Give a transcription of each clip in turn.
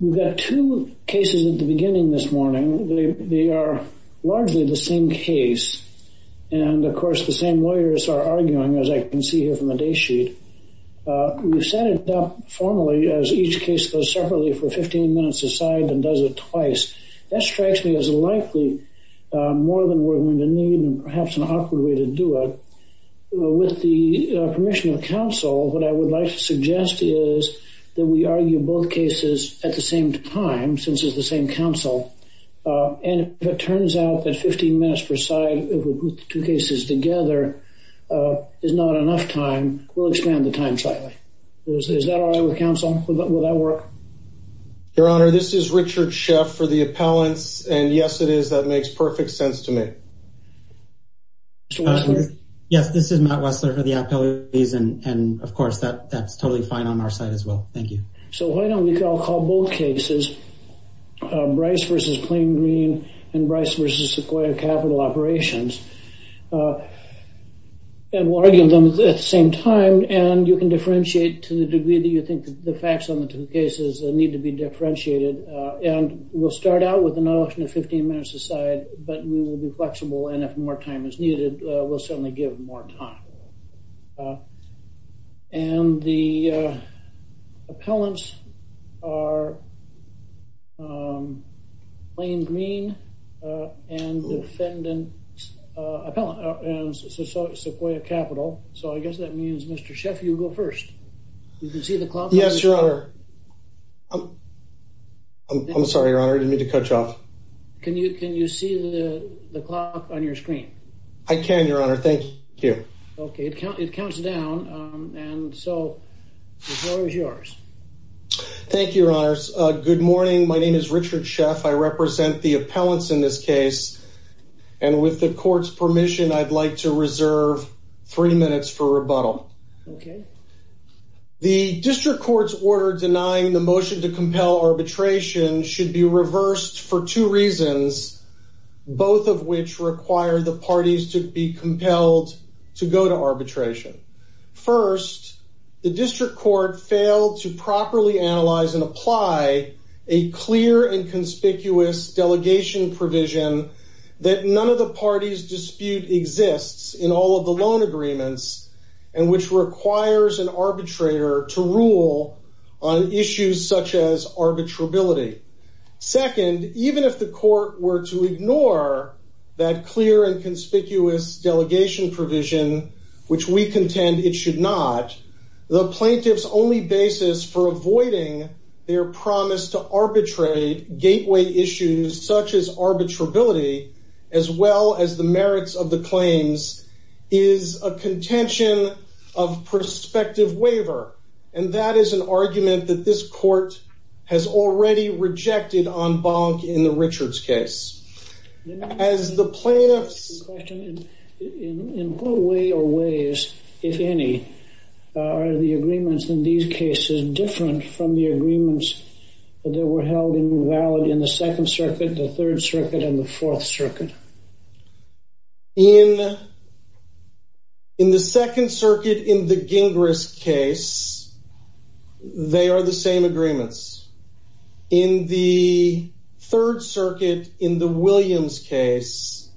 We've got two cases at the beginning this morning. They are largely the same case. And of course, the same lawyers are arguing, as I can see here from the date sheet. We've set it up formally as each case goes separately for 15 minutes aside and does it twice. That strikes me as likely more than we're going to need and perhaps an awkward way to do it. With the permission of counsel, what I would like to suggest is that we argue both cases at the same time, since it's the same counsel. And if it turns out that 15 minutes per side with two cases together is not enough time, we'll expand the time slightly. Is that all right with counsel? Will that work? Your Honor, this is Richard Sheff for the appellants. And yes, it is. That makes perfect sense to me. Yes, this is Matt Wessler for the appellants. And of course, that's totally fine on our side as well. Thank you. So why don't we call both cases, Brice v. Plain Green and Brice v. Sequoia Capital Operations. And we'll argue them at the same time. And you can differentiate to the degree that you think the facts on the two cases need to be differentiated. And we'll start out with the notion of 15 minutes aside, but we will be flexible. And if more time is needed, we'll certainly give more time. And the appellants are Plain Green and defendant, Sequoia Capital. So I guess that means, Mr. Sheff, you go first. You can see the clock. Yes, Your Honor. I'm sorry, Your Honor. I didn't mean to cut you off. Can you see the clock on your screen? I can, Your Honor. Thank you. Okay, it counts down. And so the floor is yours. Thank you, Your Honor. Good morning. My name is Richard Sheff. I represent the appellants in this case. And with the court's permission, I'd like to reserve three minutes for rebuttal. Okay. The district court's order denying the motion to compel arbitration should be reversed for two reasons, both of which require the parties to be compelled to go to arbitration. First, the district court failed to properly analyze and apply a clear and conspicuous delegation provision that none of the parties dispute exists in all of the loan agreements, and which requires an arbitrator to rule on issues such as arbitrability. Second, even if the court were to ignore that clear and conspicuous delegation provision, which we contend it should not, the plaintiff's only basis for avoiding their promise to arbitrate gateway issues such as arbitrability, as well as the merits of the claims, is a contention of prospective waiver. And that is an argument that this court has already rejected en banc in the Richards case. As the plaintiffs… Question. In what way or ways, if any, are the agreements in these cases different from the agreements that were held invalid in the Second Circuit, the Third Circuit, and the Fourth Circuit? In the Second Circuit, in the Gingras case, they are the same agreements. In the Third Circuit, in the Williams case,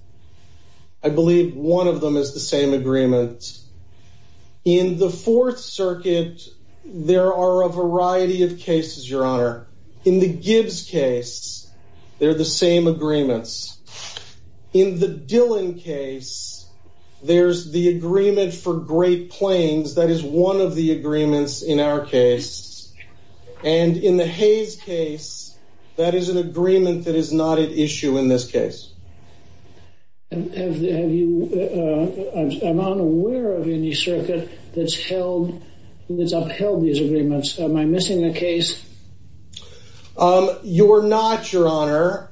I believe one of them is the same agreement. In the Fourth Circuit, there are a variety of cases, Your Honor. In the Gibbs case, they're the same agreements. In the Dillon case, there's the agreement for Great Plains. That is one of the agreements in our case. And in the Hayes case, that is an agreement that is not at issue in this case. I'm unaware of any circuit that's upheld these agreements. Am I missing the case? You're not, Your Honor.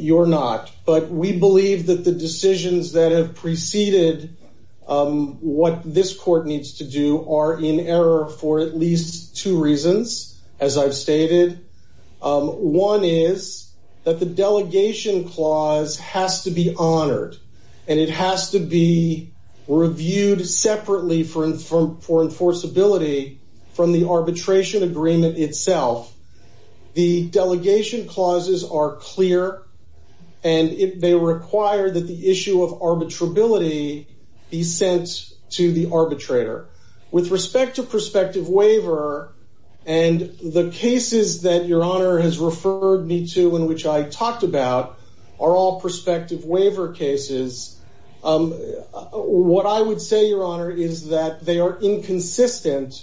You're not. But we believe that the decisions that have preceded what this court needs to do are in error for at least two reasons, as I've stated. One is that the delegation clause has to be honored. And it has to be reviewed separately for enforceability from the arbitration agreement itself. The delegation clauses are clear, and they require that the issue of arbitrability be sent to the arbitrator. With respect to prospective waiver, and the cases that Your Honor has referred me to and which I talked about are all prospective waiver cases. What I would say, Your Honor, is that they are inconsistent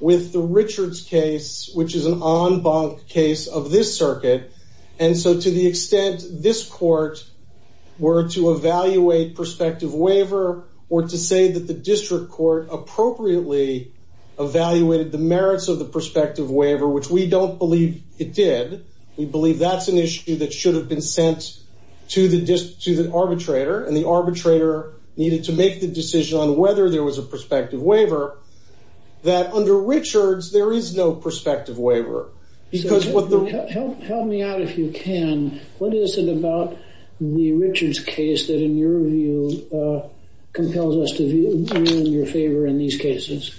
with the Richards case, which is an en banc case of this circuit. And so to the extent this court were to evaluate prospective waiver or to say that the district court appropriately evaluated the merits of the prospective waiver, which we don't believe it did, we believe that's an issue that should have been sent to the arbitrator, and the arbitrator needed to make the decision on whether there was a prospective waiver, that under Richards there is no prospective waiver. Help me out if you can. What is it about the Richards case that, in your view, compels us to view you in your favor in these cases?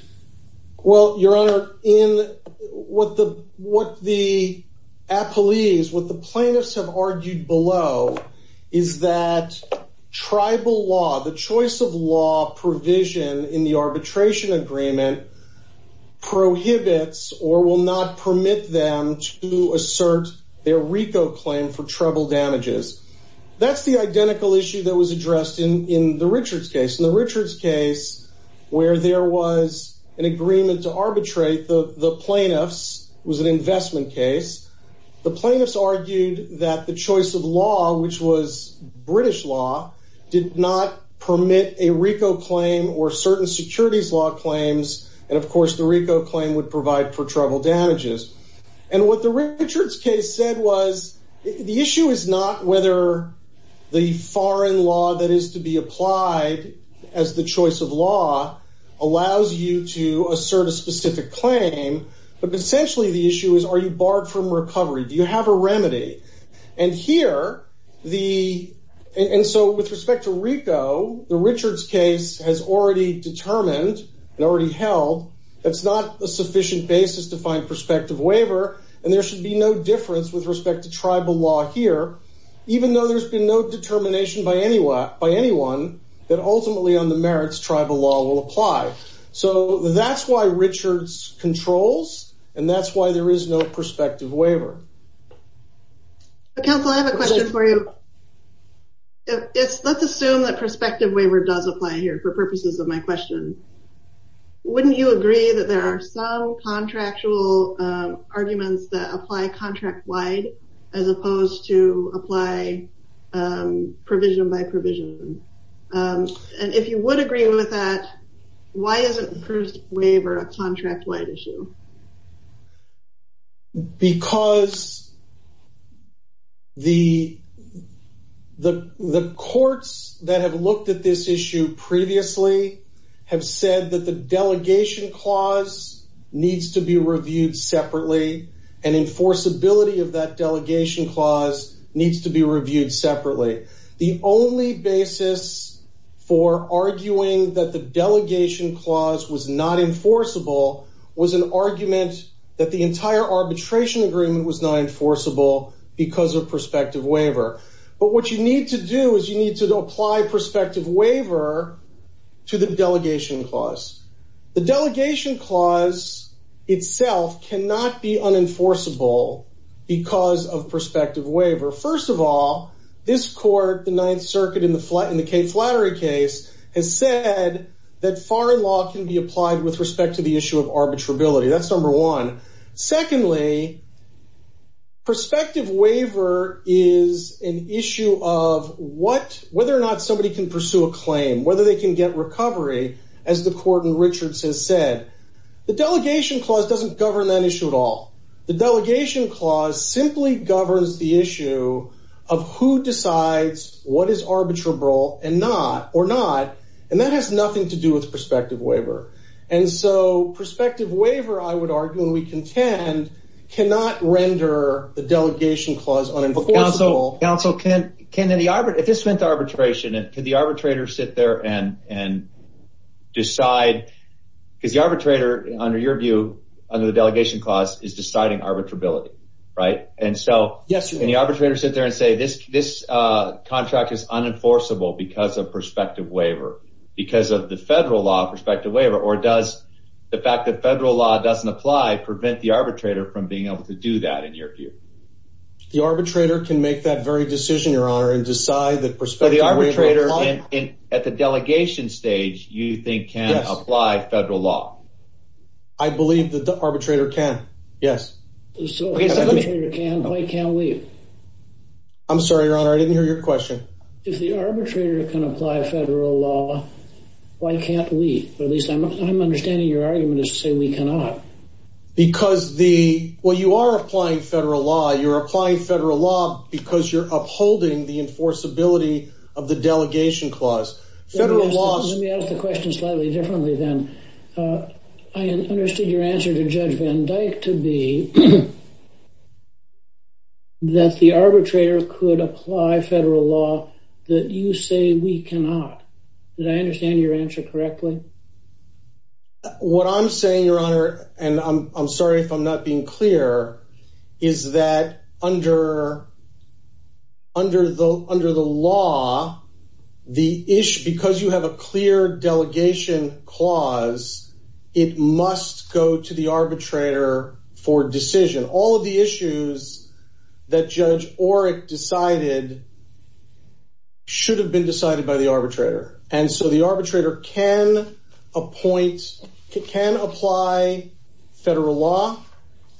Well, Your Honor, what the apolis, what the plaintiffs have argued below is that tribal law, the choice of law provision in the arbitration agreement, prohibits or will not permit them to assert their RICO claim for treble damages. That's the identical issue that was addressed in the Richards case. In the Richards case, where there was an agreement to arbitrate, the plaintiffs, it was an investment case, the plaintiffs argued that the choice of law, which was British law, did not permit a RICO claim or certain securities law claims, and of course the RICO claim would provide for treble damages. And what the Richards case said was, the issue is not whether the foreign law that is to be applied as the choice of law allows you to assert a specific claim, but essentially the issue is are you barred from recovery? Do you have a remedy? And here, and so with respect to RICO, the Richards case has already determined and already held that it's not a sufficient basis to find prospective waiver, and there should be no difference with respect to tribal law here, even though there's been no determination by anyone that ultimately on the merits, tribal law will apply. So that's why Richards controls, and that's why there is no prospective waiver. Counsel, I have a question for you. Let's assume that prospective waiver does apply here for purposes of my question. Wouldn't you agree that there are some contractual arguments that apply contract-wide as opposed to apply provision by provision? And if you would agree with that, why isn't a prospective waiver a contract-wide issue? Because the courts that have looked at this issue previously have said that the delegation clause needs to be reviewed separately, and enforceability of that delegation clause needs to be reviewed separately. The only basis for arguing that the delegation clause was not enforceable was an argument that the entire arbitration agreement was not enforceable because of prospective waiver. But what you need to do is you need to apply prospective waiver to the delegation clause. The delegation clause itself cannot be unenforceable because of prospective waiver. First of all, this court, the Ninth Circuit in the Cate Flattery case, has said that foreign law can be applied with respect to the issue of arbitrability. That's number one. Secondly, prospective waiver is an issue of whether or not somebody can pursue a claim, whether they can get recovery, as the court in Richards has said. The delegation clause doesn't govern that issue at all. The delegation clause simply governs the issue of who decides what is arbitrable or not, and that has nothing to do with prospective waiver. And so prospective waiver, I would argue, and we contend, cannot render the delegation clause unenforceable. Counsel, if this went to arbitration, can the arbitrator sit there and decide? Because the arbitrator, under your view, under the delegation clause, is deciding arbitrability, right? And so can the arbitrator sit there and say this contract is unenforceable because of prospective waiver, because of the federal law of prospective waiver, or does the fact that federal law doesn't apply prevent the arbitrator from being able to do that, in your view? The arbitrator can make that very decision, Your Honor, and decide that prospective waiver applies. So the arbitrator, at the delegation stage, you think can apply federal law? I believe that the arbitrator can, yes. So if the arbitrator can, why can't we? I'm sorry, Your Honor, I didn't hear your question. If the arbitrator can apply federal law, why can't we? At least I'm understanding your argument is to say we cannot. Well, you are applying federal law. You're applying federal law because you're upholding the enforceability of the delegation clause. Let me ask the question slightly differently then. I understood your answer to Judge Van Dyke to be that the arbitrator could apply federal law that you say we cannot. Did I understand your answer correctly? What I'm saying, Your Honor, and I'm sorry if I'm not being clear, is that under the law, because you have a clear delegation clause, it must go to the arbitrator for decision. All of the issues that Judge Orrick decided should have been decided by the arbitrator. And so the arbitrator can appoint, can apply federal law,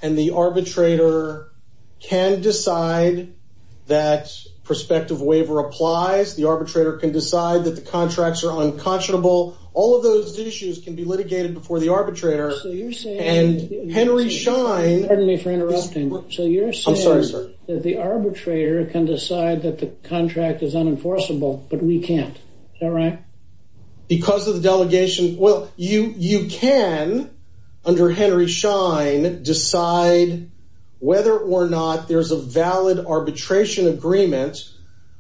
and the arbitrator can decide that prospective waiver applies. The arbitrator can decide that the contracts are unconscionable. All of those issues can be litigated before the arbitrator. So you're saying— And Henry Schein— Pardon me for interrupting. I'm sorry, sir. So you're saying that the arbitrator can decide that the contract is unenforceable, but we can't. Is that right? Because of the delegation—well, you can, under Henry Schein, decide whether or not there's a valid arbitration agreement.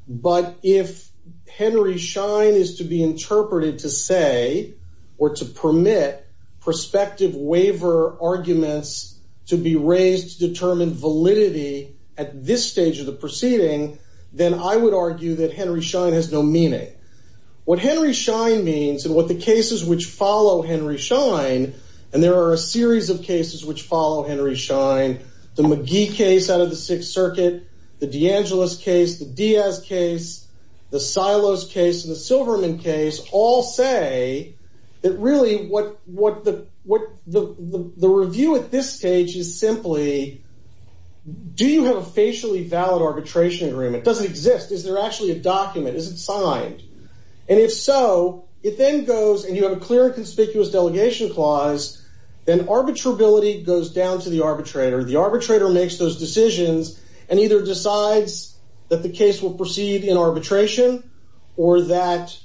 But if Henry Schein is to be interpreted to say or to permit prospective waiver arguments to be raised to determine validity at this stage of the proceeding, then I would argue that Henry Schein has no meaning. What Henry Schein means and what the cases which follow Henry Schein—and there are a series of cases which follow Henry Schein, the McGee case out of the Sixth Circuit, the DeAngelis case, the Diaz case, the Silos case, and the Silverman case, all say that really the review at this stage is simply, do you have a facially valid arbitration agreement? Does it exist? Is there actually a document? Is it signed? And if so, it then goes, and you have a clear and conspicuous delegation clause, then arbitrability goes down to the arbitrator. The arbitrator makes those decisions and either decides that the case will proceed in arbitration or that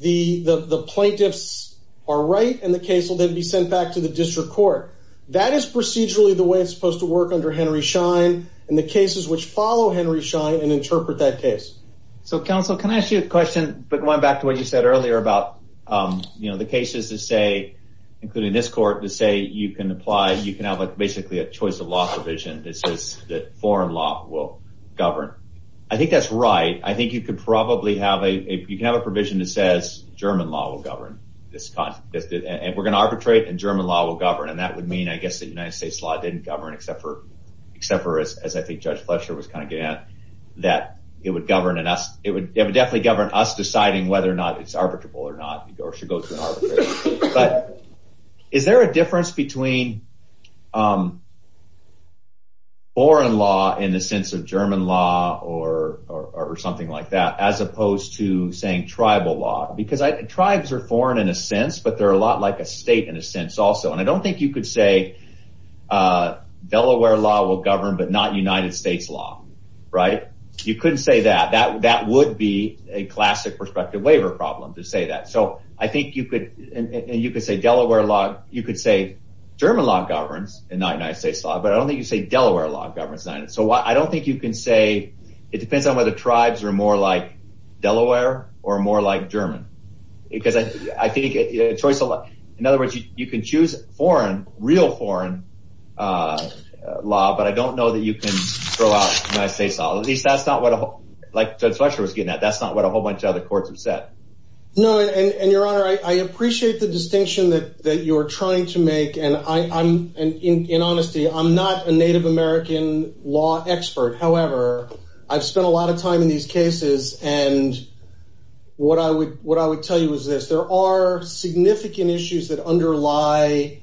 the plaintiffs are right and the case will then be sent back to the district court. That is procedurally the way it's supposed to work under Henry Schein and the cases which follow Henry Schein and interpret that case. So, counsel, can I ask you a question? But going back to what you said earlier about the cases that say, including this court, that say you can apply, you can have basically a choice of law provision that says that foreign law will govern. I think that's right. I think you could probably have a provision that says German law will govern. We're going to arbitrate and German law will govern, and that would mean, I guess, that United States law didn't govern, except for, as I think Judge Fletcher was kind of getting at, that it would definitely govern us deciding whether or not it's arbitrable or not, or should go to an arbitrator. But is there a difference between foreign law in the sense of German law or something like that, as opposed to, say, tribal law? Because tribes are foreign in a sense, but they're a lot like a state in a sense also. And I don't think you could say Delaware law will govern but not United States law, right? You couldn't say that. That would be a classic prospective waiver problem to say that. So I think you could say Delaware law – you could say German law governs and not United States law, but I don't think you'd say Delaware law governs. So I don't think you can say – it depends on whether tribes are more like Delaware or more like German. Because I think a choice – in other words, you can choose foreign, real foreign law, but I don't know that you can throw out United States law. At least that's not what – like Judge Fletcher was getting at, that's not what a whole bunch of other courts have said. No, and, Your Honor, I appreciate the distinction that you're trying to make, and I'm – in honesty, I'm not a Native American law expert. However, I've spent a lot of time in these cases, and what I would tell you is this. There are significant issues that underlie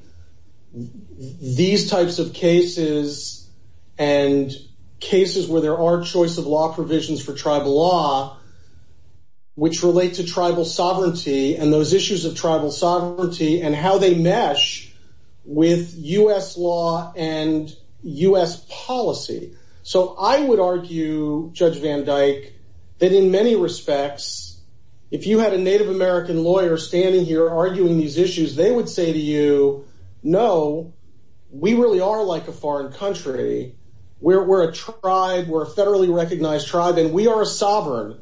these types of cases and cases where there are choice of law provisions for tribal law which relate to tribal sovereignty and those issues of tribal sovereignty and how they mesh with U.S. law and U.S. policy. So I would argue, Judge Van Dyke, that in many respects, if you had a Native American lawyer standing here arguing these issues, they would say to you, no, we really are like a foreign country. We're a tribe. We're a federally recognized tribe, and we are a sovereign.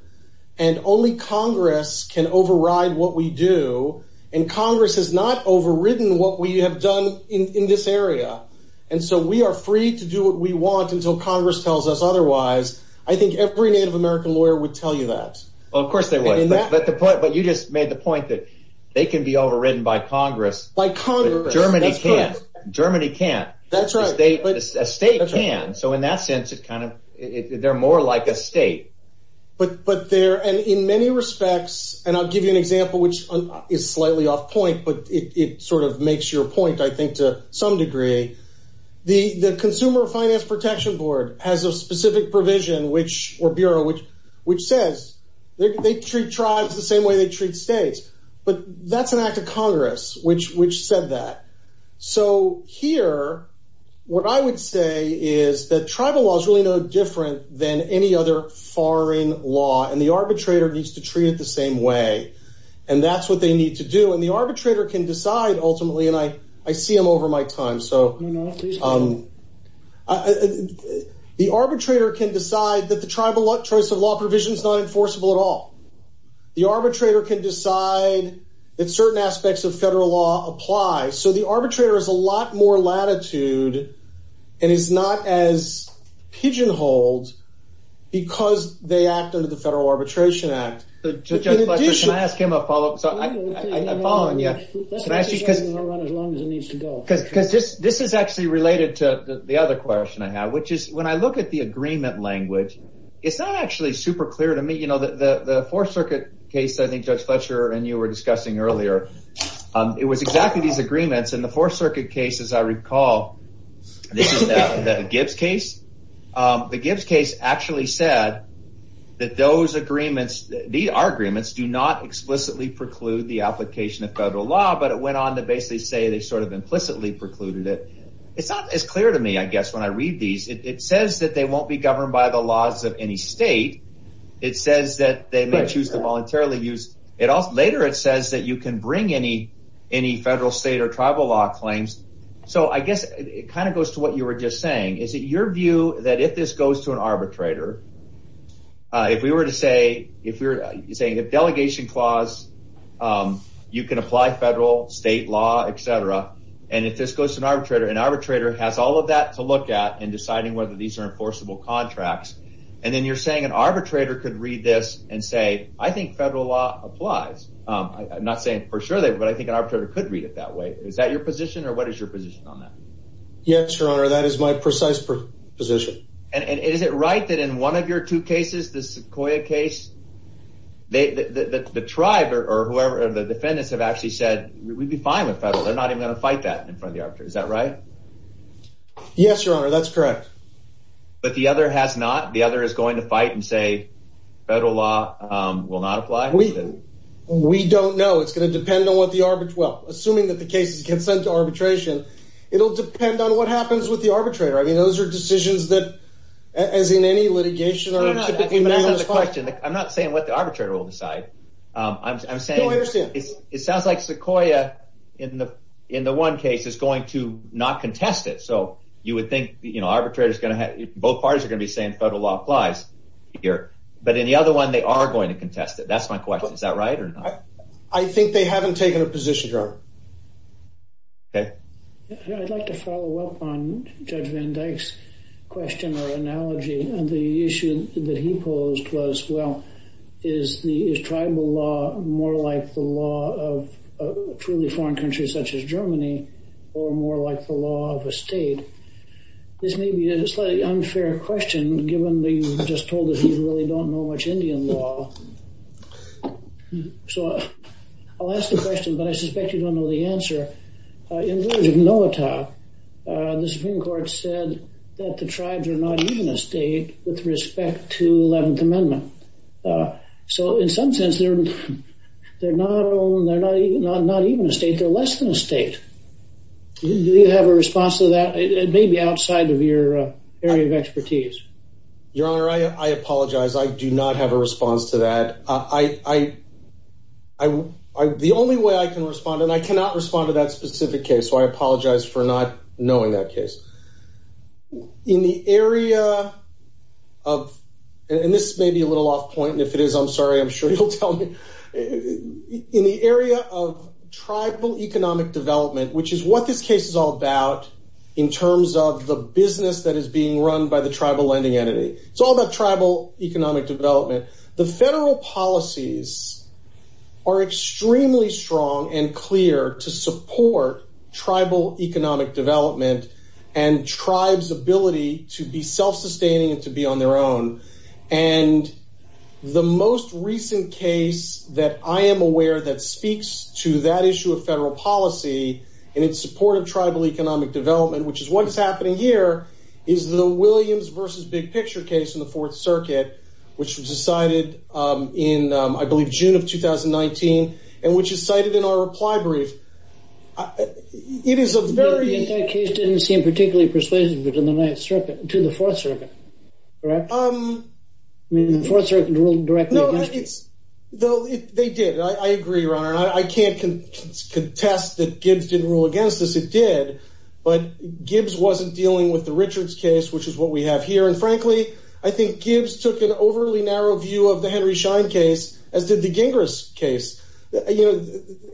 And only Congress can override what we do, and Congress has not overridden what we have done in this area. And so we are free to do what we want until Congress tells us otherwise. I think every Native American lawyer would tell you that. Well, of course they would. But you just made the point that they can be overridden by Congress. By Congress. Germany can't. Germany can't. That's right. A state can. So in that sense, they're more like a state. And in many respects, and I'll give you an example which is slightly off point, but it sort of makes your point, I think, to some degree. The Consumer Finance Protection Board has a specific provision, or bureau, which says they treat tribes the same way they treat states. But that's an act of Congress which said that. So here, what I would say is that tribal law is really no different than any other foreign law, and the arbitrator needs to treat it the same way. And that's what they need to do. And the arbitrator can decide, ultimately, and I see them over my time. So the arbitrator can decide that the tribal choice of law provision is not enforceable at all. The arbitrator can decide that certain aspects of federal law apply. So the arbitrator has a lot more latitude and is not as pigeonholed because they act under the Federal Arbitration Act. Judge Fletcher, can I ask him a follow-up? I'm following you. I'll run as long as it needs to go. Because this is actually related to the other question I have, which is when I look at the agreement language, it's not actually super clear to me. The Fourth Circuit case, I think Judge Fletcher and you were discussing earlier, it was exactly these agreements. And the Fourth Circuit case, as I recall, this is the Gibbs case. The Gibbs case actually said that those agreements, these are agreements, do not explicitly preclude the application of federal law. But it went on to basically say they sort of implicitly precluded it. It's not as clear to me, I guess, when I read these. It says that they won't be governed by the laws of any state. It says that they may choose to voluntarily use. Later it says that you can bring any federal, state, or tribal law claims. So I guess it kind of goes to what you were just saying. Is it your view that if this goes to an arbitrator, if we were to say, if delegation clause, you can apply federal, state law, et cetera, and if this goes to an arbitrator, an arbitrator has all of that to look at in deciding whether these are enforceable contracts. And then you're saying an arbitrator could read this and say, I think federal law applies. I'm not saying for sure, but I think an arbitrator could read it that way. Is that your position, or what is your position on that? Yes, Your Honor, that is my precise position. And is it right that in one of your two cases, the Sequoyah case, the tribe or whoever, the defendants have actually said, we'd be fine with federal. They're not even going to fight that in front of the arbitrator. Is that right? Yes, Your Honor, that's correct. But the other has not? The other is going to fight and say federal law will not apply? We don't know. It's going to depend on what the arbitrage, well, assuming that the cases get sent to arbitration, it'll depend on what happens with the arbitrator. I mean, those are decisions that, as in any litigation. I'm not saying what the arbitrator will decide. I'm saying it sounds like Sequoyah in the one case is going to not contest it. So you would think, you know, both parties are going to be saying federal law applies here. But in the other one, they are going to contest it. That's my question. Is that right or not? I think they haven't taken a position, Your Honor. Okay. I'd like to follow up on Judge Van Dyke's question or analogy. The issue that he posed was, well, is tribal law more like the law of truly foreign countries such as Germany or more like the law of a state? This may be a slightly unfair question, given that you just told us you really don't know much Indian law. So I'll ask the question, but I suspect you don't know the answer. In the words of Noatak, the Supreme Court said that the tribes are not even a state with respect to the 11th Amendment. So in some sense, they're not even a state. They're less than a state. Do you have a response to that? It may be outside of your area of expertise. Your Honor, I apologize. I do not have a response to that. The only way I can respond, and I cannot respond to that specific case, so I apologize for not knowing that case. In the area of – and this may be a little off point, and if it is, I'm sorry, I'm sure you'll tell me. In the area of tribal economic development, which is what this case is all about in terms of the business that is being run by the tribal lending entity. It's all about tribal economic development. The federal policies are extremely strong and clear to support tribal economic development and tribes' ability to be self-sustaining and to be on their own. And the most recent case that I am aware that speaks to that issue of federal policy and its support of tribal economic development, which is what's happening here, is the Williams v. Big Picture case in the Fourth Circuit, which was decided in, I believe, June of 2019 and which is cited in our reply brief. It is a very – That case didn't seem particularly persuasive to the Fourth Circuit, correct? I mean, the Fourth Circuit ruled directly against it. I can't contest that Gibbs didn't rule against this. It did. But Gibbs wasn't dealing with the Richards case, which is what we have here. And frankly, I think Gibbs took an overly narrow view of the Henry Schein case as did the Gingras case. You know,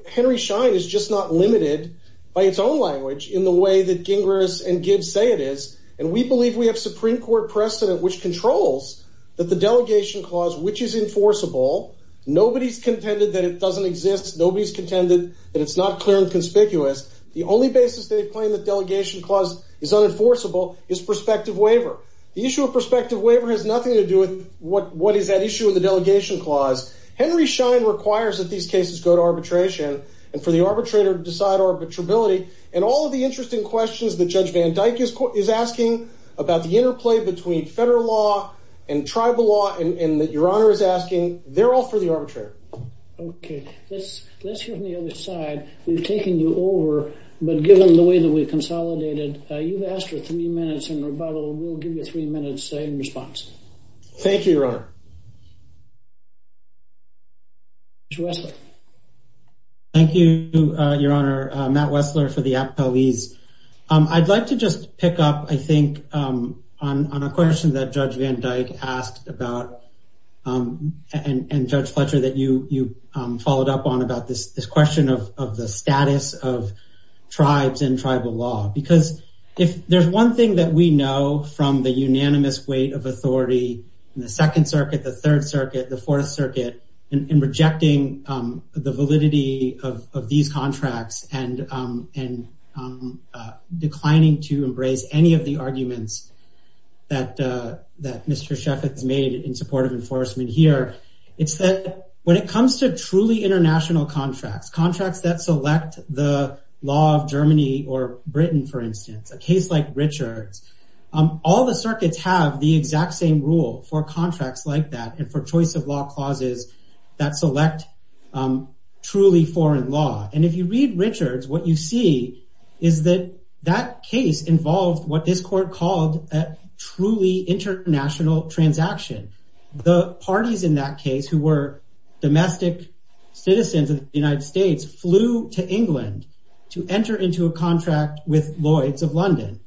Henry Schein is just not limited by its own language in the way that Gingras and Gibbs say it is. And we believe we have Supreme Court precedent which controls that the delegation clause, which is enforceable, nobody's contended that it doesn't exist. Nobody's contended that it's not clear and conspicuous. The only basis they claim that delegation clause is unenforceable is prospective waiver. The issue of prospective waiver has nothing to do with what is at issue in the delegation clause. Henry Schein requires that these cases go to arbitration and for the arbitrator to decide arbitrability. And all of the interesting questions that Judge Van Dyck is asking about the interplay between federal law and tribal law and that Your Honor is asking, they're all for the arbitrator. Okay. Let's hear from the other side. We've taken you over, but given the way that we've consolidated, you've asked for three minutes in rebuttal. We'll give you three minutes in response. Thank you, Your Honor. Judge Wessler. Thank you, Your Honor. Matt Wessler for the appellees. I'd like to just pick up, I think, on a question that Judge Van Dyck asked about and Judge Fletcher, that you followed up on about this question of the status of tribes and tribal law. Because if there's one thing that we know from the unanimous weight of authority in the Second Circuit, the Third Circuit, the Fourth Circuit, in rejecting the validity of these contracts and declining to embrace any of the arguments that Mr. Sheffitt has made in support of enforcement here, it's that when it comes to truly international contracts, contracts that select the law of Germany or Britain, for instance, a case like Richard's, all the circuits have the exact same rule for contracts like that and for choice of law clauses that select truly foreign law. And if you read Richard's, what you see is that that case involved what this court called a truly international transaction. The parties in that case who were domestic citizens of the United States flew to England to enter into a contract with Lloyd's of London.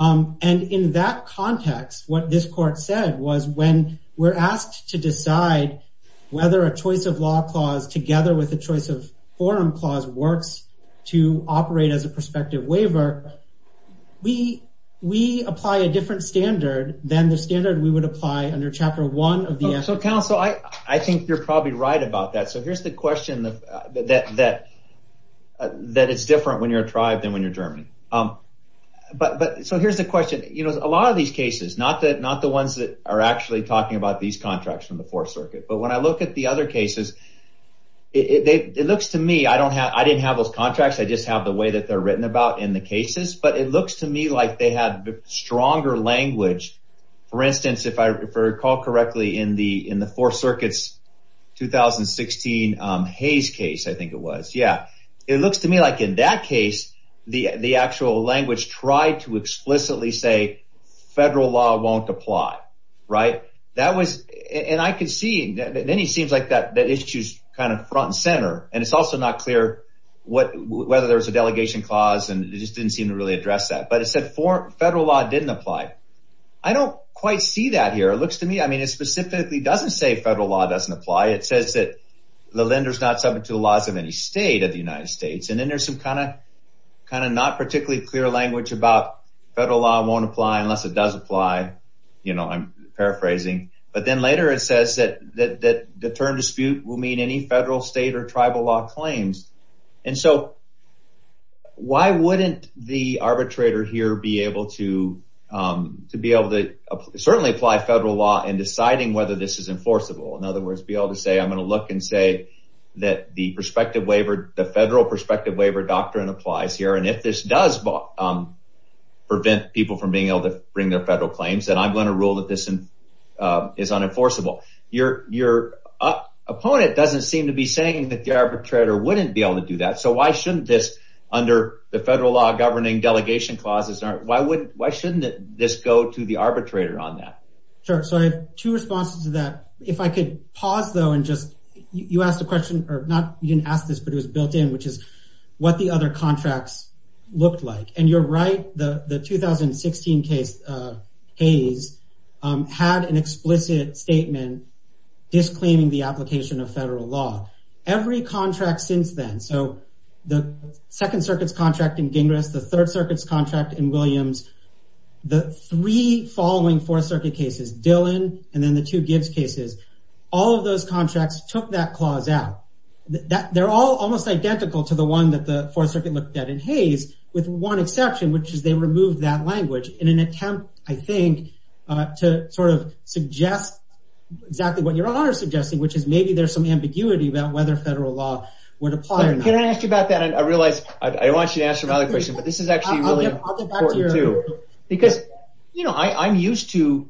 And in that context, what this court said was when we're asked to decide whether a choice of law clause, together with a choice of forum clause, works to operate as a prospective waiver, we apply a different standard than the standard we would apply under Chapter 1 of the Act. So, counsel, I think you're probably right about that. So here's the question that it's different when you're a tribe than when you're German. But so here's the question. You know, a lot of these cases, not the ones that are actually talking about these contracts from the Fourth Circuit, but when I look at the other cases, it looks to me, I didn't have those contracts. I just have the way that they're written about in the cases. But it looks to me like they have stronger language. For instance, if I recall correctly, in the Fourth Circuit's 2016 Hayes case, I think it was. Yeah, it looks to me like in that case, the actual language tried to explicitly say federal law won't apply. Right. That was and I could see. Then it seems like that issue's kind of front and center. And it's also not clear whether there was a delegation clause and it just didn't seem to really address that. But it said federal law didn't apply. I don't quite see that here. It looks to me, I mean, it specifically doesn't say federal law doesn't apply. It says that the lender's not subject to the laws of any state of the United States. And then there's some kind of not particularly clear language about federal law won't apply unless it does apply. You know, I'm paraphrasing. But then later it says that the term dispute will mean any federal, state, or tribal law claims. And so why wouldn't the arbitrator here be able to certainly apply federal law in deciding whether this is enforceable? In other words, be able to say, I'm going to look and say that the federal prospective waiver doctrine applies here. And if this does prevent people from being able to bring their federal claims, then I'm going to rule that this is unenforceable. Your opponent doesn't seem to be saying that the arbitrator wouldn't be able to do that. So why shouldn't this, under the federal law governing delegation clauses, why shouldn't this go to the arbitrator on that? Sure. So I have two responses to that. If I could pause, though, and just, you asked a question, or not, you didn't ask this, but it was built in, which is what the other contracts looked like. And you're right. The 2016 case, Hayes, had an explicit statement disclaiming the application of federal law. Every contract since then, so the Second Circuit's contract in Gingras, the Third Circuit's contract in Williams, the three following Fourth Circuit cases, Dillon, and then the two Gibbs cases, all of those contracts took that clause out. They're all almost identical to the one that the Fourth Circuit looked at in Hayes, with one exception, which is they removed that language in an attempt, I think, to sort of suggest exactly what you're suggesting, which is maybe there's some ambiguity about whether federal law would apply or not. Can I ask you about that? I realize I want you to answer my other question, but this is actually really important, too. Because, you know, I'm used to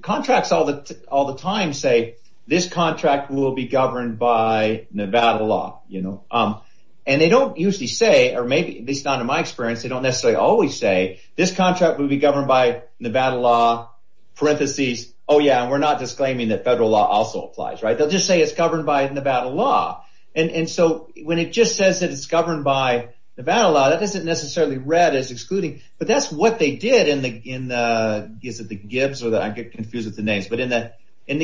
contracts all the time say, this contract will be governed by Nevada law, you know. And they don't usually say, or maybe at least not in my experience, they don't necessarily always say, this contract will be governed by Nevada law, parentheses, oh, yeah, and we're not disclaiming that federal law also applies, right? They'll just say it's governed by Nevada law. And so when it just says that it's governed by Nevada law, that doesn't necessarily read as excluding. But that's what they did in the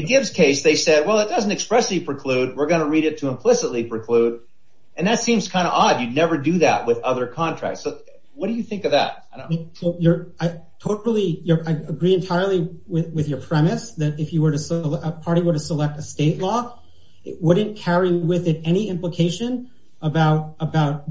Gibbs case. They said, well, it doesn't expressly preclude. We're going to read it to implicitly preclude. And that seems kind of odd. You'd never do that with other contracts. So what do you think of that? I totally agree entirely with your premise that if a party were to select a state law, it wouldn't carry with it any implication about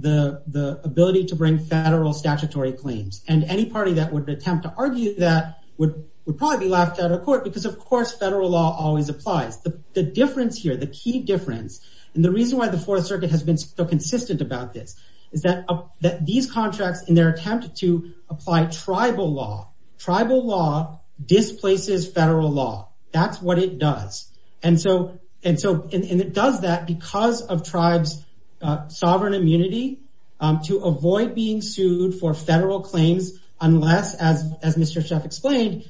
the ability to bring federal statutory claims. And any party that would attempt to argue that would probably be laughed out of court because, of course, federal law always applies. The difference here, the key difference, and the reason why the Fourth Circuit has been so consistent about this, is that these contracts, in their attempt to apply tribal law, tribal law displaces federal law. That's what it does. And so it does that because of tribes' sovereign immunity to avoid being sued for federal claims unless, as Mr. Sheff explained,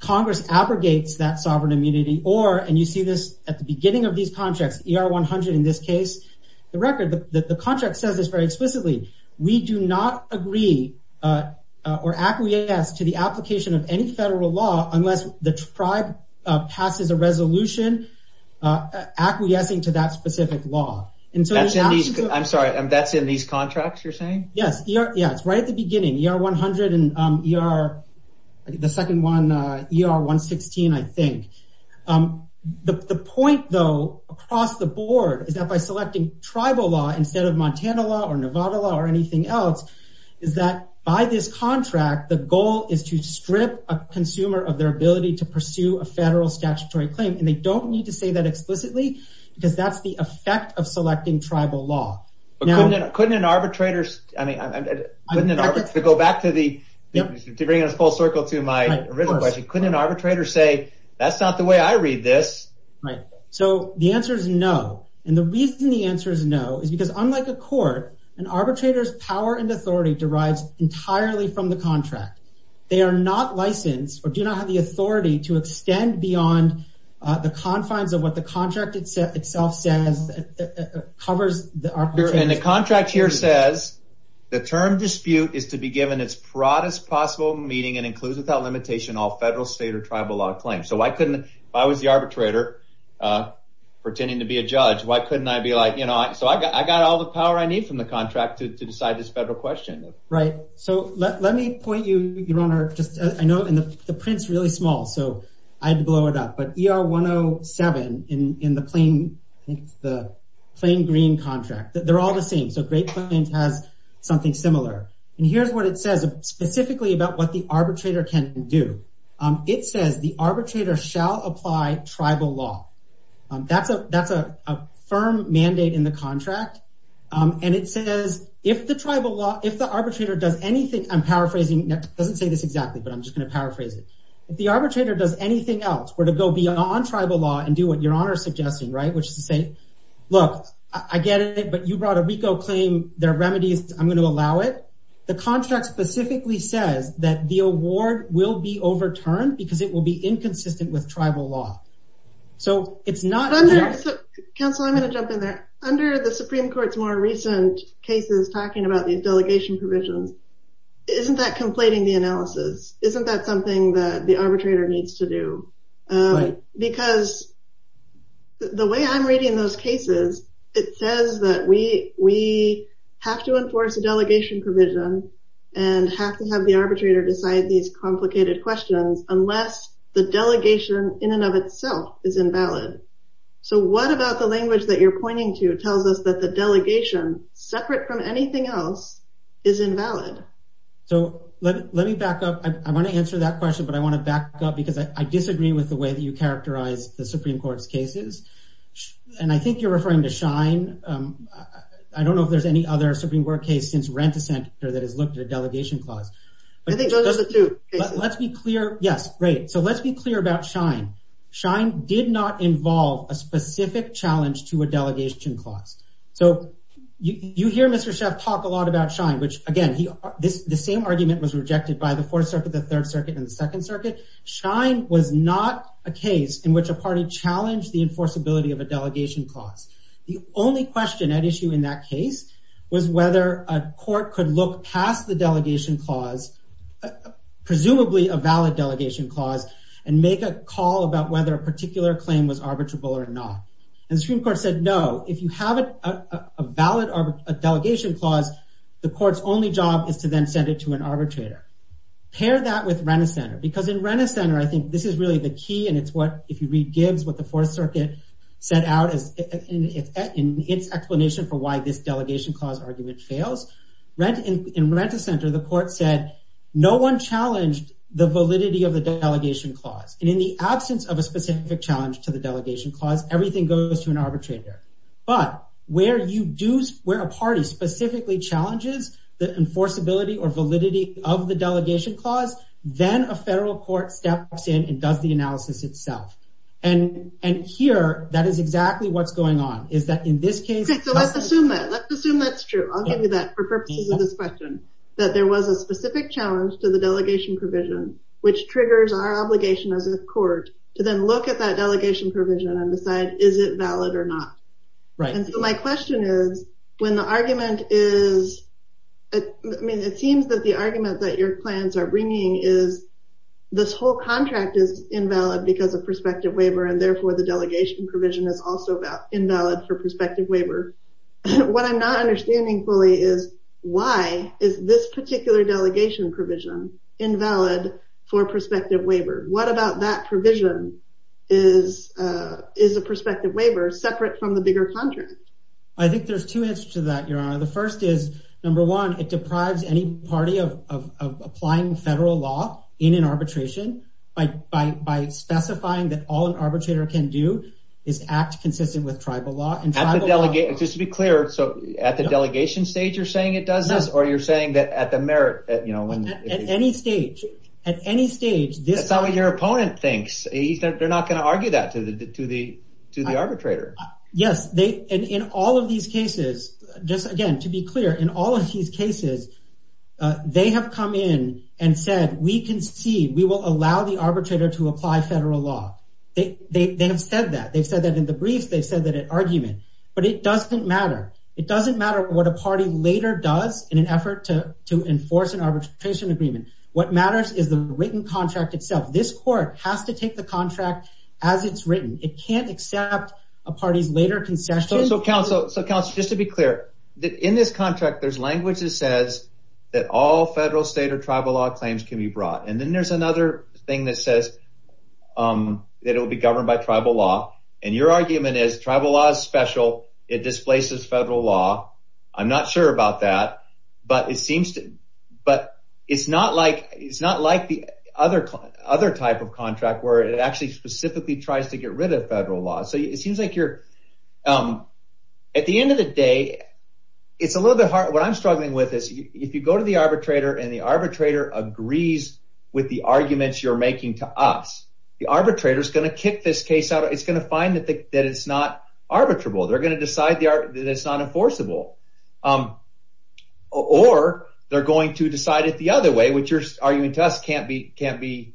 Congress abrogates that sovereign immunity or, and you see this at the beginning of these contracts, ER-100 in this case, the record, the contract says this very explicitly. We do not agree or acquiesce to the application of any federal law unless the tribe passes a resolution acquiescing to that specific law. I'm sorry, that's in these contracts you're saying? Yes, it's right at the beginning, ER-100 and ER, the second one, ER-116, I think. The point, though, across the board, is that by selecting tribal law instead of Montana law or Nevada law or anything else, is that by this contract, the goal is to strip a consumer of their ability to pursue a federal statutory claim, and they don't need to say that explicitly because that's the effect of selecting tribal law. Couldn't an arbitrator, I mean, to go back to the, to bring us full circle to my original question, couldn't an arbitrator say, that's not the way I read this? Right. So the answer is no. And the reason the answer is no is because unlike a court, an arbitrator's power and authority derives entirely from the contract. They are not licensed or do not have the authority to extend beyond the confines of what the contract itself says, covers the arbitration. And the contract here says, the term dispute is to be given its broadest possible meaning and includes without limitation all federal, state, or tribal law claims. So why couldn't, if I was the arbitrator pretending to be a judge, why couldn't I be like, you know, so I got all the power I need from the contract to decide this federal question. Right. So let me point you, Your Honor, just, I know, and the print's really small, so I had to blow it up, but ER 107 in the plain, the plain green contract, they're all the same. So Great Plains has something similar. And here's what it says specifically about what the arbitrator can do. It says the arbitrator shall apply tribal law. That's a, that's a firm mandate in the contract. And it says if the tribal law, if the arbitrator does anything, I'm paraphrasing, it doesn't say this exactly, but I'm just going to paraphrase it. If the arbitrator does anything else, were to go beyond tribal law and do what Your Honor is suggesting, right, which is to say, look, I get it, but you brought a RICO claim, there are remedies, I'm going to allow it. The contract specifically says that the award will be overturned because it will be inconsistent with tribal law. So it's not. Counsel, I'm going to jump in there. Under the Supreme Court's more recent cases, talking about these delegation provisions, isn't that conflating the analysis? Isn't that something that the arbitrator needs to do? Because the way I'm reading those cases, it says that we, we have to enforce a delegation provision and have to have the arbitrator decide these complicated questions unless the delegation in and of itself is invalid. So what about the language that you're pointing to tells us that the delegation, separate from anything else, is invalid? So let me back up. I want to answer that question, but I want to back up because I disagree with the way that you characterize the Supreme Court's cases. And I think you're referring to Schein. I don't know if there's any other Supreme Court case since Rent-a-Senator that has looked at a delegation clause. I think those are the two cases. Let's be clear. Yes. Right. So let's be clear about Schein. Schein did not involve a specific challenge to a delegation clause. So you hear Mr. Sheff talk a lot about Schein, which, again, the same argument was rejected by the Fourth Circuit, the Third Circuit, and the Second Circuit. Schein was not a case in which a party challenged the enforceability of a delegation clause. The only question at issue in that case was whether a court could look past the delegation clause, presumably a valid delegation clause, and make a call about whether a particular claim was arbitrable or not. And the Supreme Court said no. If you have a valid delegation clause, the court's only job is to then send it to an arbitrator. Pair that with Rent-a-Senator. Because in Rent-a-Senator, I think this is really the key. And it's what, if you read Gibbs, what the Fourth Circuit set out in its explanation for why this delegation clause argument fails. In Rent-a-Senator, the court said no one challenged the validity of the delegation clause. And in the absence of a specific challenge to the delegation clause, everything goes to an arbitrator. But where a party specifically challenges the enforceability or validity of the delegation clause, then a federal court steps in and does the analysis itself. And here, that is exactly what's going on, is that in this case- So let's assume that. Let's assume that's true. I'll give you that for purposes of this question. That there was a specific challenge to the delegation provision, which triggers our obligation as a court to then look at that delegation provision and decide, is it valid or not? And so my question is, when the argument is- I mean, it seems that the argument that your clients are bringing is this whole contract is invalid because of prospective waiver, and therefore the delegation provision is also invalid for prospective waiver. What I'm not understanding fully is, why is this particular delegation provision invalid for prospective waiver? What about that provision? Is a prospective waiver separate from the bigger contract? I think there's two answers to that, Your Honor. The first is, number one, it deprives any party of applying federal law in an arbitration by specifying that all an arbitrator can do is act consistent with tribal law. Just to be clear, so at the delegation stage you're saying it does this, or you're saying that at the merit- At any stage, at any stage- That's not what your opponent thinks. They're not going to argue that to the arbitrator. Yes, and in all of these cases, just again, to be clear, in all of these cases, they have come in and said, we concede, we will allow the arbitrator to apply federal law. They have said that. They've said that in the briefs, they've said that in argument, but it doesn't matter. It doesn't matter what a party later does in an effort to enforce an arbitration agreement. What matters is the written contract itself. This court has to take the contract as it's written. It can't accept a party's later concession. So counsel, just to be clear, in this contract, there's language that says that all federal, state, or tribal law claims can be brought. And then there's another thing that says that it will be governed by tribal law. And your argument is tribal law is special. It displaces federal law. I'm not sure about that. But it seems to- But it's not like the other type of contract where it actually specifically tries to get rid of federal law. So it seems like you're- At the end of the day, it's a little bit hard. What I'm struggling with is if you go to the arbitrator and the arbitrator agrees with the arguments you're making to us, the arbitrator is going to kick this case out. It's going to find that it's not arbitrable. They're going to decide that it's not enforceable. Or they're going to decide it the other way, which your argument to us can't be-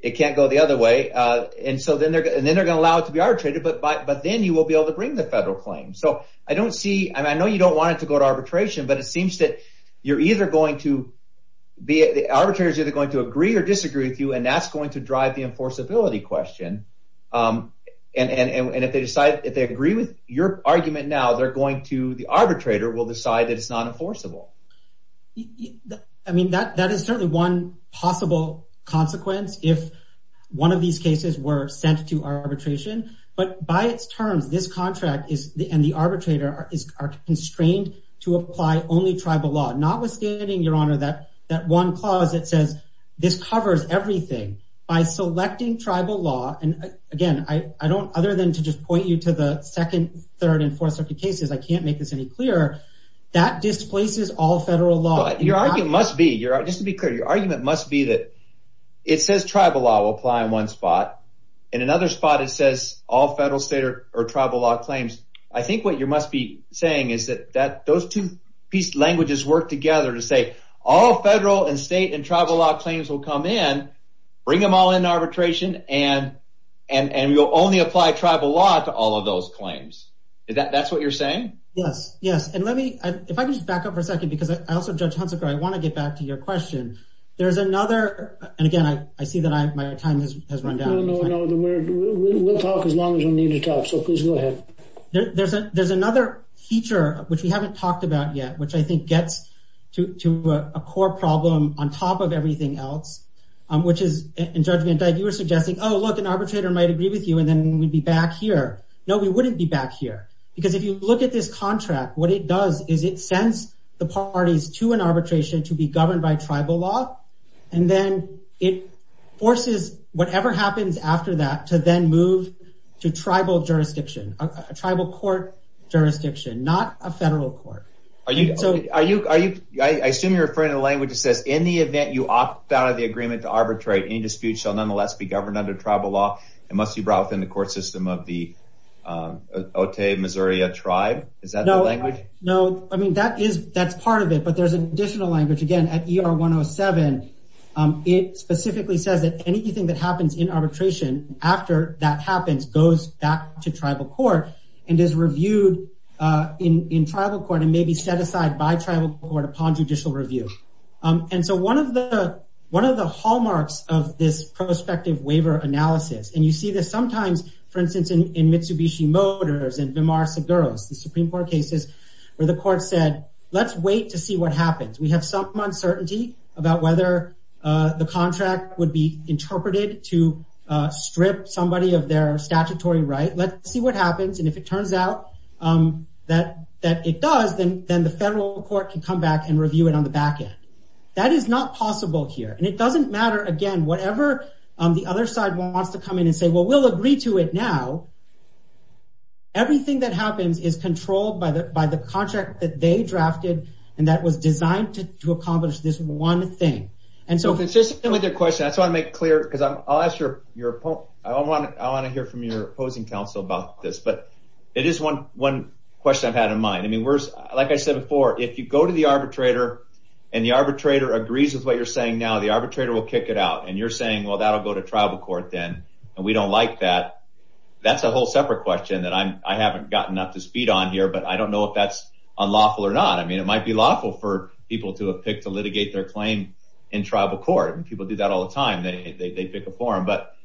It can't go the other way. And so then they're going to allow it to be arbitrated, but then you will be able to bring the federal claim. So I don't see- I know you don't want it to go to arbitration, but it seems that you're either going to- And if they decide- If they agree with your argument now, they're going to- The arbitrator will decide that it's not enforceable. I mean, that is certainly one possible consequence if one of these cases were sent to arbitration. But by its terms, this contract and the arbitrator are constrained to apply only tribal law. Notwithstanding, Your Honor, that one clause that says this covers everything by selecting tribal law. And again, I don't- Other than to just point you to the second, third, and fourth circuit cases, I can't make this any clearer. That displaces all federal law. Your argument must be- Just to be clear, your argument must be that it says tribal law will apply in one spot. In another spot, it says all federal, state, or tribal law claims. I think what you must be saying is that those two piece languages work together to say all federal and state and tribal law claims will come in, bring them all in arbitration, and you'll only apply tribal law to all of those claims. Is that- That's what you're saying? Yes. Yes. And let me- If I could just back up for a second because I also- Judge Hunsaker, I want to get back to your question. There's another- And again, I see that my time has run down. We'll talk as long as we need to talk, so please go ahead. There's another feature, which we haven't talked about yet, which I think gets to a core problem on top of everything else, which is- And Judge Van Dyke, you were suggesting, oh, look, an arbitrator might agree with you and then we'd be back here. No, we wouldn't be back here. Because if you look at this contract, what it does is it sends the parties to an arbitration to be governed by tribal law, and then it forces whatever happens after that to then move to tribal jurisdiction, tribal court jurisdiction, not a federal court. Are you- I assume you're referring to the language that says, in the event you opt out of the agreement to arbitrate, any dispute shall nonetheless be governed under tribal law and must be brought within the court system of the Otay Missouri tribe? Is that the language? No. I mean, that is- That's part of it, but there's an additional language. Again, at ER 107, it specifically says that anything that happens in arbitration after that happens goes back to tribal court and is reviewed in tribal court and may be set aside by tribal court upon judicial review. And so one of the hallmarks of this prospective waiver analysis, and you see this sometimes, for instance, in Mitsubishi Motors and Vimar Seguros, the Supreme Court cases where the court said, let's wait to see what happens. We have some uncertainty about whether the contract would be interpreted to strip somebody of their statutory right. Let's see what happens. And if it turns out that it does, then the federal court can come back and review it on the back end. That is not possible here. And it doesn't matter, again, whatever the other side wants to come in and say, well, we'll agree to it now. Everything that happens is controlled by the contract that they drafted and that was designed to accomplish this one thing. Consistently with your question, I just want to make it clear, because I want to hear from your opposing counsel about this. But it is one question I've had in mind. Like I said before, if you go to the arbitrator and the arbitrator agrees with what you're saying now, the arbitrator will kick it out. And you're saying, well, that will go to tribal court then, and we don't like that. That's a whole separate question that I haven't gotten up to speed on here, but I don't know if that's unlawful or not. I mean, it might be lawful for people to have picked to litigate their claim in tribal court. And people do that all the time. They pick a forum. But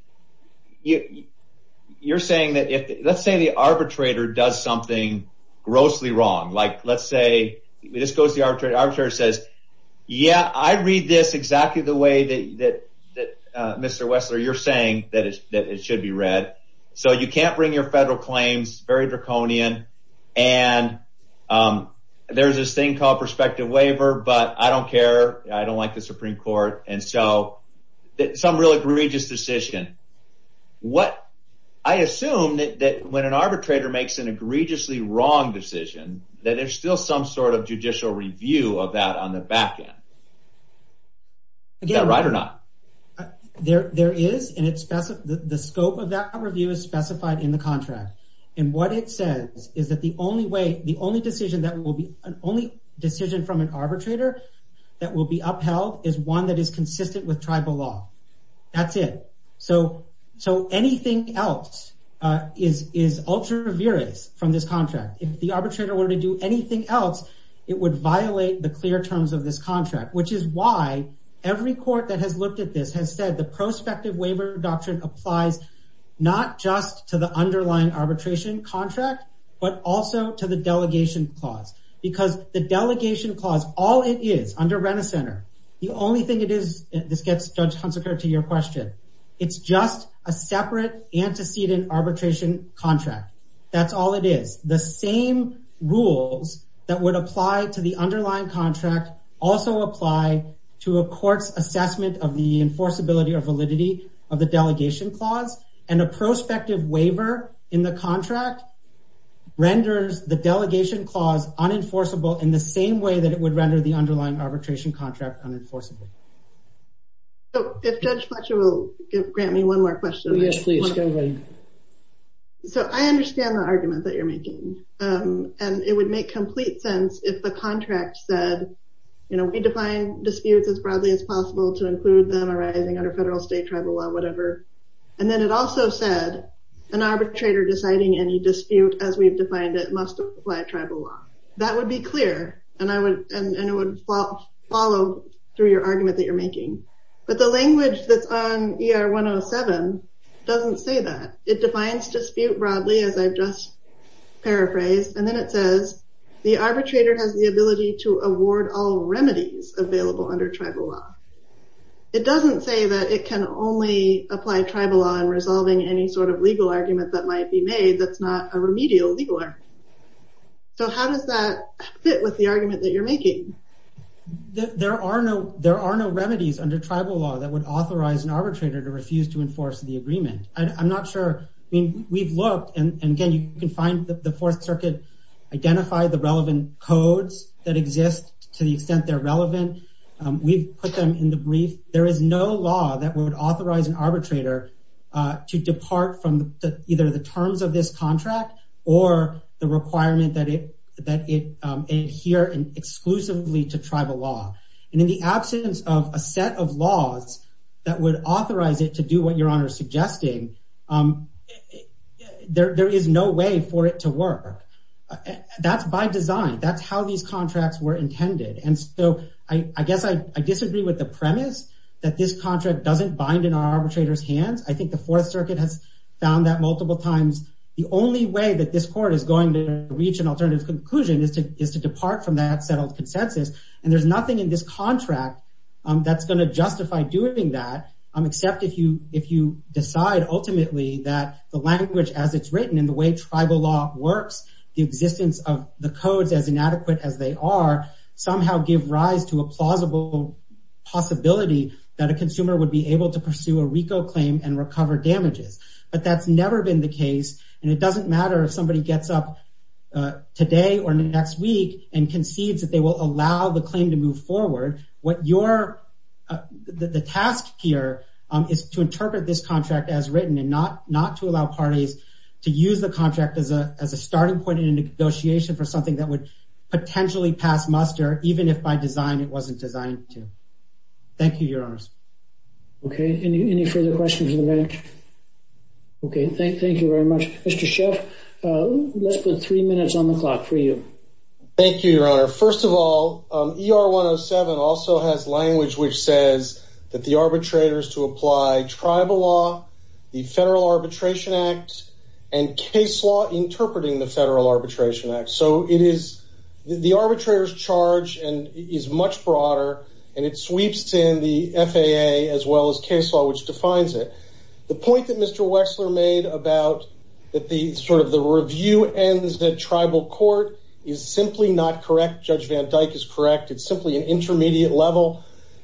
you're saying that if, let's say the arbitrator does something grossly wrong. Like, let's say, it just goes to the arbitrator. The arbitrator says, yeah, I read this exactly the way that, Mr. Wessler, you're saying that it should be read. So you can't bring your federal claims. Very draconian. And there's this thing called prospective waiver, but I don't care. I don't like the Supreme Court. And so some real egregious decision. I assume that when an arbitrator makes an egregiously wrong decision, that there's still some sort of judicial review of that on the back end. Is that right or not? There is, and the scope of that review is specified in the contract. And what it says is that the only decision from an arbitrator that will be upheld is one that is consistent with tribal law. That's it. So anything else is ultra viris from this contract. If the arbitrator were to do anything else, it would violate the clear terms of this contract. Which is why every court that has looked at this has said the prospective waiver doctrine applies not just to the underlying arbitration contract, but also to the delegation clause. Because the delegation clause, all it is under Rent-A-Center, the only thing it is, this gets Judge Hunsaker to your question. It's just a separate antecedent arbitration contract. That's all it is. The same rules that would apply to the underlying contract also apply to a court's assessment of the enforceability or validity of the delegation clause. And a prospective waiver in the contract renders the delegation clause unenforceable in the same way that it would render the underlying arbitration contract unenforceable. If Judge Fletcher will grant me one more question. Yes, please. So I understand the argument that you're making. And it would make complete sense if the contract said, you know, we define disputes as broadly as possible to include them arising under federal, state, tribal law, whatever. And then it also said an arbitrator deciding any dispute as we've defined it must apply tribal law. That would be clear. And it would follow through your argument that you're making. But the language that's on ER 107 doesn't say that. It defines dispute broadly, as I've just paraphrased. And then it says the arbitrator has the ability to award all remedies available under tribal law. It doesn't say that it can only apply tribal law in resolving any sort of legal argument that might be made that's not a remedial legal argument. So how does that fit with the argument that you're making? There are no remedies under tribal law that would authorize an arbitrator to refuse to enforce the agreement. I'm not sure. I mean, we've looked. And again, you can find the Fourth Circuit, identify the relevant codes that exist to the extent they're relevant. We've put them in the brief. There is no law that would authorize an arbitrator to depart from either the terms of this contract or the requirement that it adhere exclusively to tribal law. And in the absence of a set of laws that would authorize it to do what your honor is suggesting, there is no way for it to work. That's by design. That's how these contracts were intended. And so I guess I disagree with the premise that this contract doesn't bind in our arbitrator's hands. I think the Fourth Circuit has found that multiple times. The only way that this court is going to reach an alternative conclusion is to is to depart from that settled consensus. And there's nothing in this contract that's going to justify doing that. Except if you if you decide ultimately that the language as it's written in the way tribal law works, the existence of the codes as inadequate as they are somehow give rise to a plausible possibility that a consumer would be able to pursue a RICO claim and recover damages. But that's never been the case. And it doesn't matter if somebody gets up today or next week and concedes that they will allow the claim to move forward. What you're the task here is to interpret this contract as written and not not to allow parties to use the contract as a as a starting point in a negotiation for something that would potentially pass muster, even if by design, it wasn't designed to. Thank you, your honor. Okay, any further questions? Okay, thank thank you very much, Mr. Sheff. Let's put three minutes on the clock for you. Thank you, your honor. First of all, ER 107 also has language which says that the arbitrators to apply tribal law, the Federal Arbitration Act and case law interpreting the Federal Arbitration Act. So it is the arbitrators charge and is much broader and it sweeps in the FAA as well as case law, which defines it. The point that Mr. Wexler made about that the sort of the review ends that tribal court is simply not correct. Judge Van Dyke is correct. It's simply an intermediate level.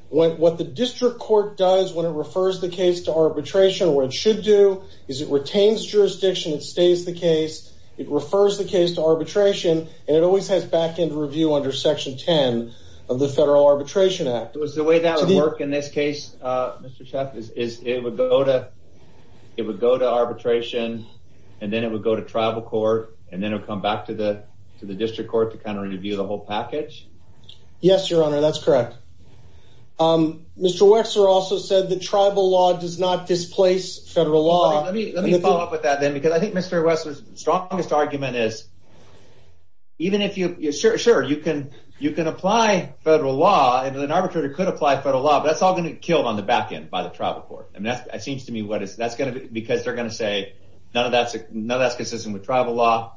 What the district court does when it refers the case to arbitration, what it should do is it retains jurisdiction. It stays the case. It refers the case to arbitration, and it always has back end review under Section 10 of the Federal Arbitration Act. Was the way that would work in this case, Mr. Sheff, is it would go to it would go to arbitration and then it would go to tribal court and then it would come back to the to the district court to kind of review the whole package. Yes, your honor. That's correct. Mr. Wexler also said the tribal law does not displace federal law. Let me let me follow up with that, then, because I think Mr. Wexler's strongest argument is. Even if you're sure you can, you can apply federal law and an arbitrator could apply federal law, that's all going to be killed on the back end by the tribal court. And that seems to me what is that's going to be because they're going to say none of that's none of that's consistent with tribal law.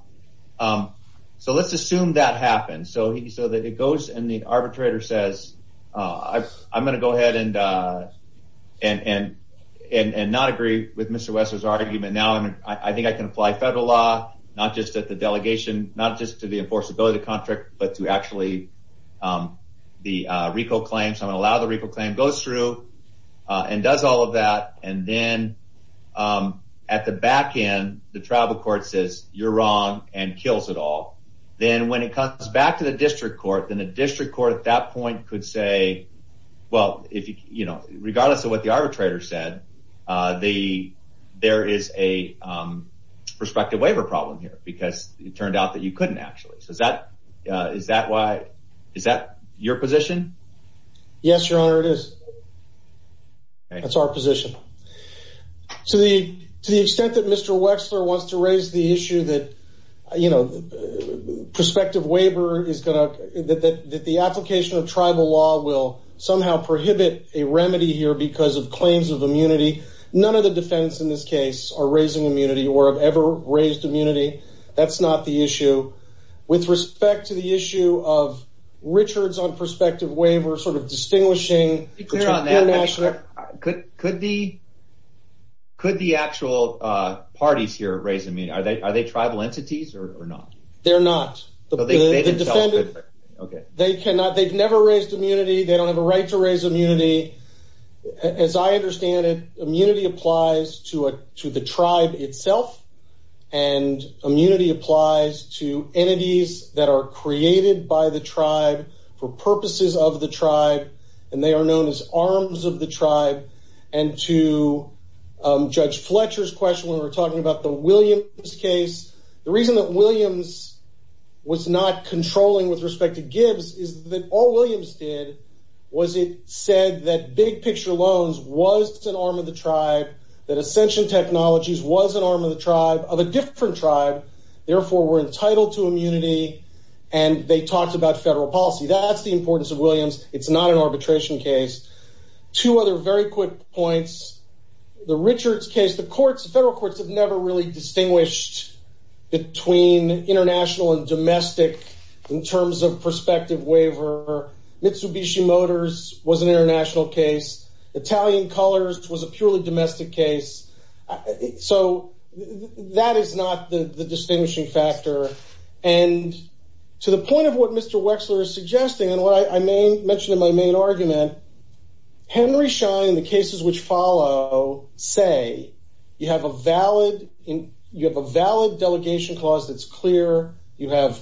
So let's assume that happens so that it goes and the arbitrator says, I'm going to go ahead and and and and not agree with Mr. Wexler's argument. Now, I think I can apply federal law, not just at the delegation, not just to the enforceability contract, but to actually the RICO claim. So I allow the RICO claim goes through and does all of that. And then at the back end, the tribal court says you're wrong and kills it all. Then when it comes back to the district court, then the district court at that point could say, well, if you know, regardless of what the arbitrator said, the there is a prospective waiver problem here because it turned out that you couldn't actually. So is that is that why is that your position? Yes, your honor, it is. That's our position to the to the extent that Mr. Wexler wants to raise the issue that, you know, the prospective waiver is going to that the application of tribal law will somehow prohibit a remedy here because of claims of immunity. None of the defense in this case are raising immunity or have ever raised immunity. That's not the issue with respect to the issue of Richards on prospective waiver, sort of distinguishing international. Could could be. Could the actual parties here raise? I mean, are they are they tribal entities or not? They're not the defendants. OK, they cannot. They've never raised immunity. They don't have a right to raise immunity. As I understand it, immunity applies to it, to the tribe itself. And immunity applies to entities that are created by the tribe for purposes of the tribe. And they are known as arms of the tribe. And to Judge Fletcher's question, we were talking about the Williams case. The reason that Williams was not controlling with respect to Gibbs is that all Williams did was it said that big picture loans was an arm of the tribe, that Ascension Technologies was an arm of the tribe of a different tribe. Therefore, we're entitled to immunity. And they talked about federal policy. That's the importance of Williams. It's not an arbitration case. Two other very quick points. The Richards case, the courts, the federal courts have never really distinguished between international and domestic in terms of prospective waiver. Mitsubishi Motors was an international case. Italian Colors was a purely domestic case. So that is not the distinguishing factor. And to the point of what Mr. Wexler is suggesting and what I mentioned in my main argument, Henry Schein and the cases which follow say you have a valid delegation clause that's clear. You have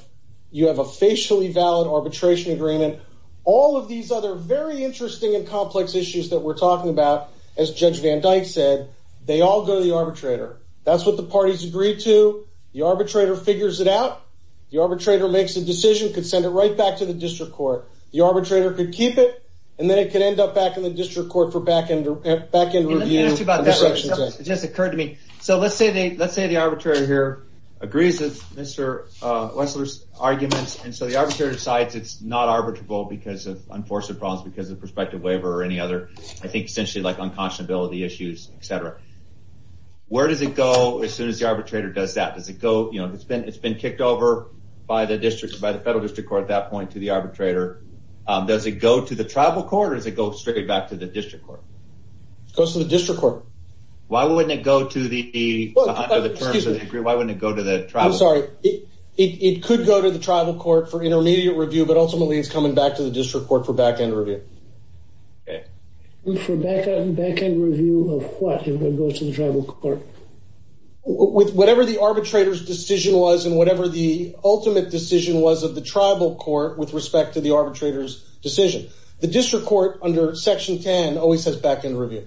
a facially valid arbitration agreement. All of these other very interesting and complex issues that we're talking about, as Judge Van Dyke said, they all go to the arbitrator. That's what the parties agree to. The arbitrator figures it out. The arbitrator makes a decision, could send it right back to the district court. The arbitrator could keep it, and then it could end up back in the district court for back-end review. It just occurred to me. So let's say the arbitrator here agrees with Mr. Wexler's arguments. And so the arbitrator decides it's not arbitrable because of unforeseen problems because of prospective waiver or any other, I think, essentially like unconscionability issues, etc. Where does it go as soon as the arbitrator does that? It's been kicked over by the federal district court at that point to the arbitrator. Does it go to the tribal court or does it go straight back to the district court? It goes to the district court. Why wouldn't it go to the tribal court? I'm sorry. It could go to the tribal court for intermediate review, but ultimately it's coming back to the district court for back-end review. For back-end review of what? It would go to the tribal court? Whatever the arbitrator's decision was and whatever the ultimate decision was of the tribal court with respect to the arbitrator's decision. The district court under Section 10 always has back-end review.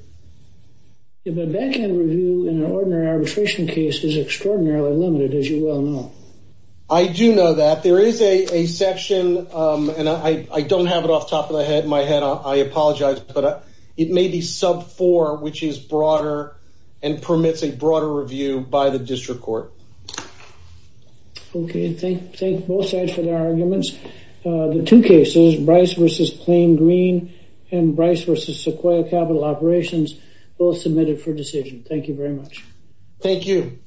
But back-end review in an ordinary arbitration case is extraordinarily limited, as you well know. I do know that. There is a section, and I don't have it off the top of my head. I apologize. It may be sub 4, which is broader and permits a broader review by the district court. Okay. Thank both sides for their arguments. The two cases, Bryce v. Plain Green and Bryce v. Sequoia Capital Operations, both submitted for decision. Thank you very much. Thank you.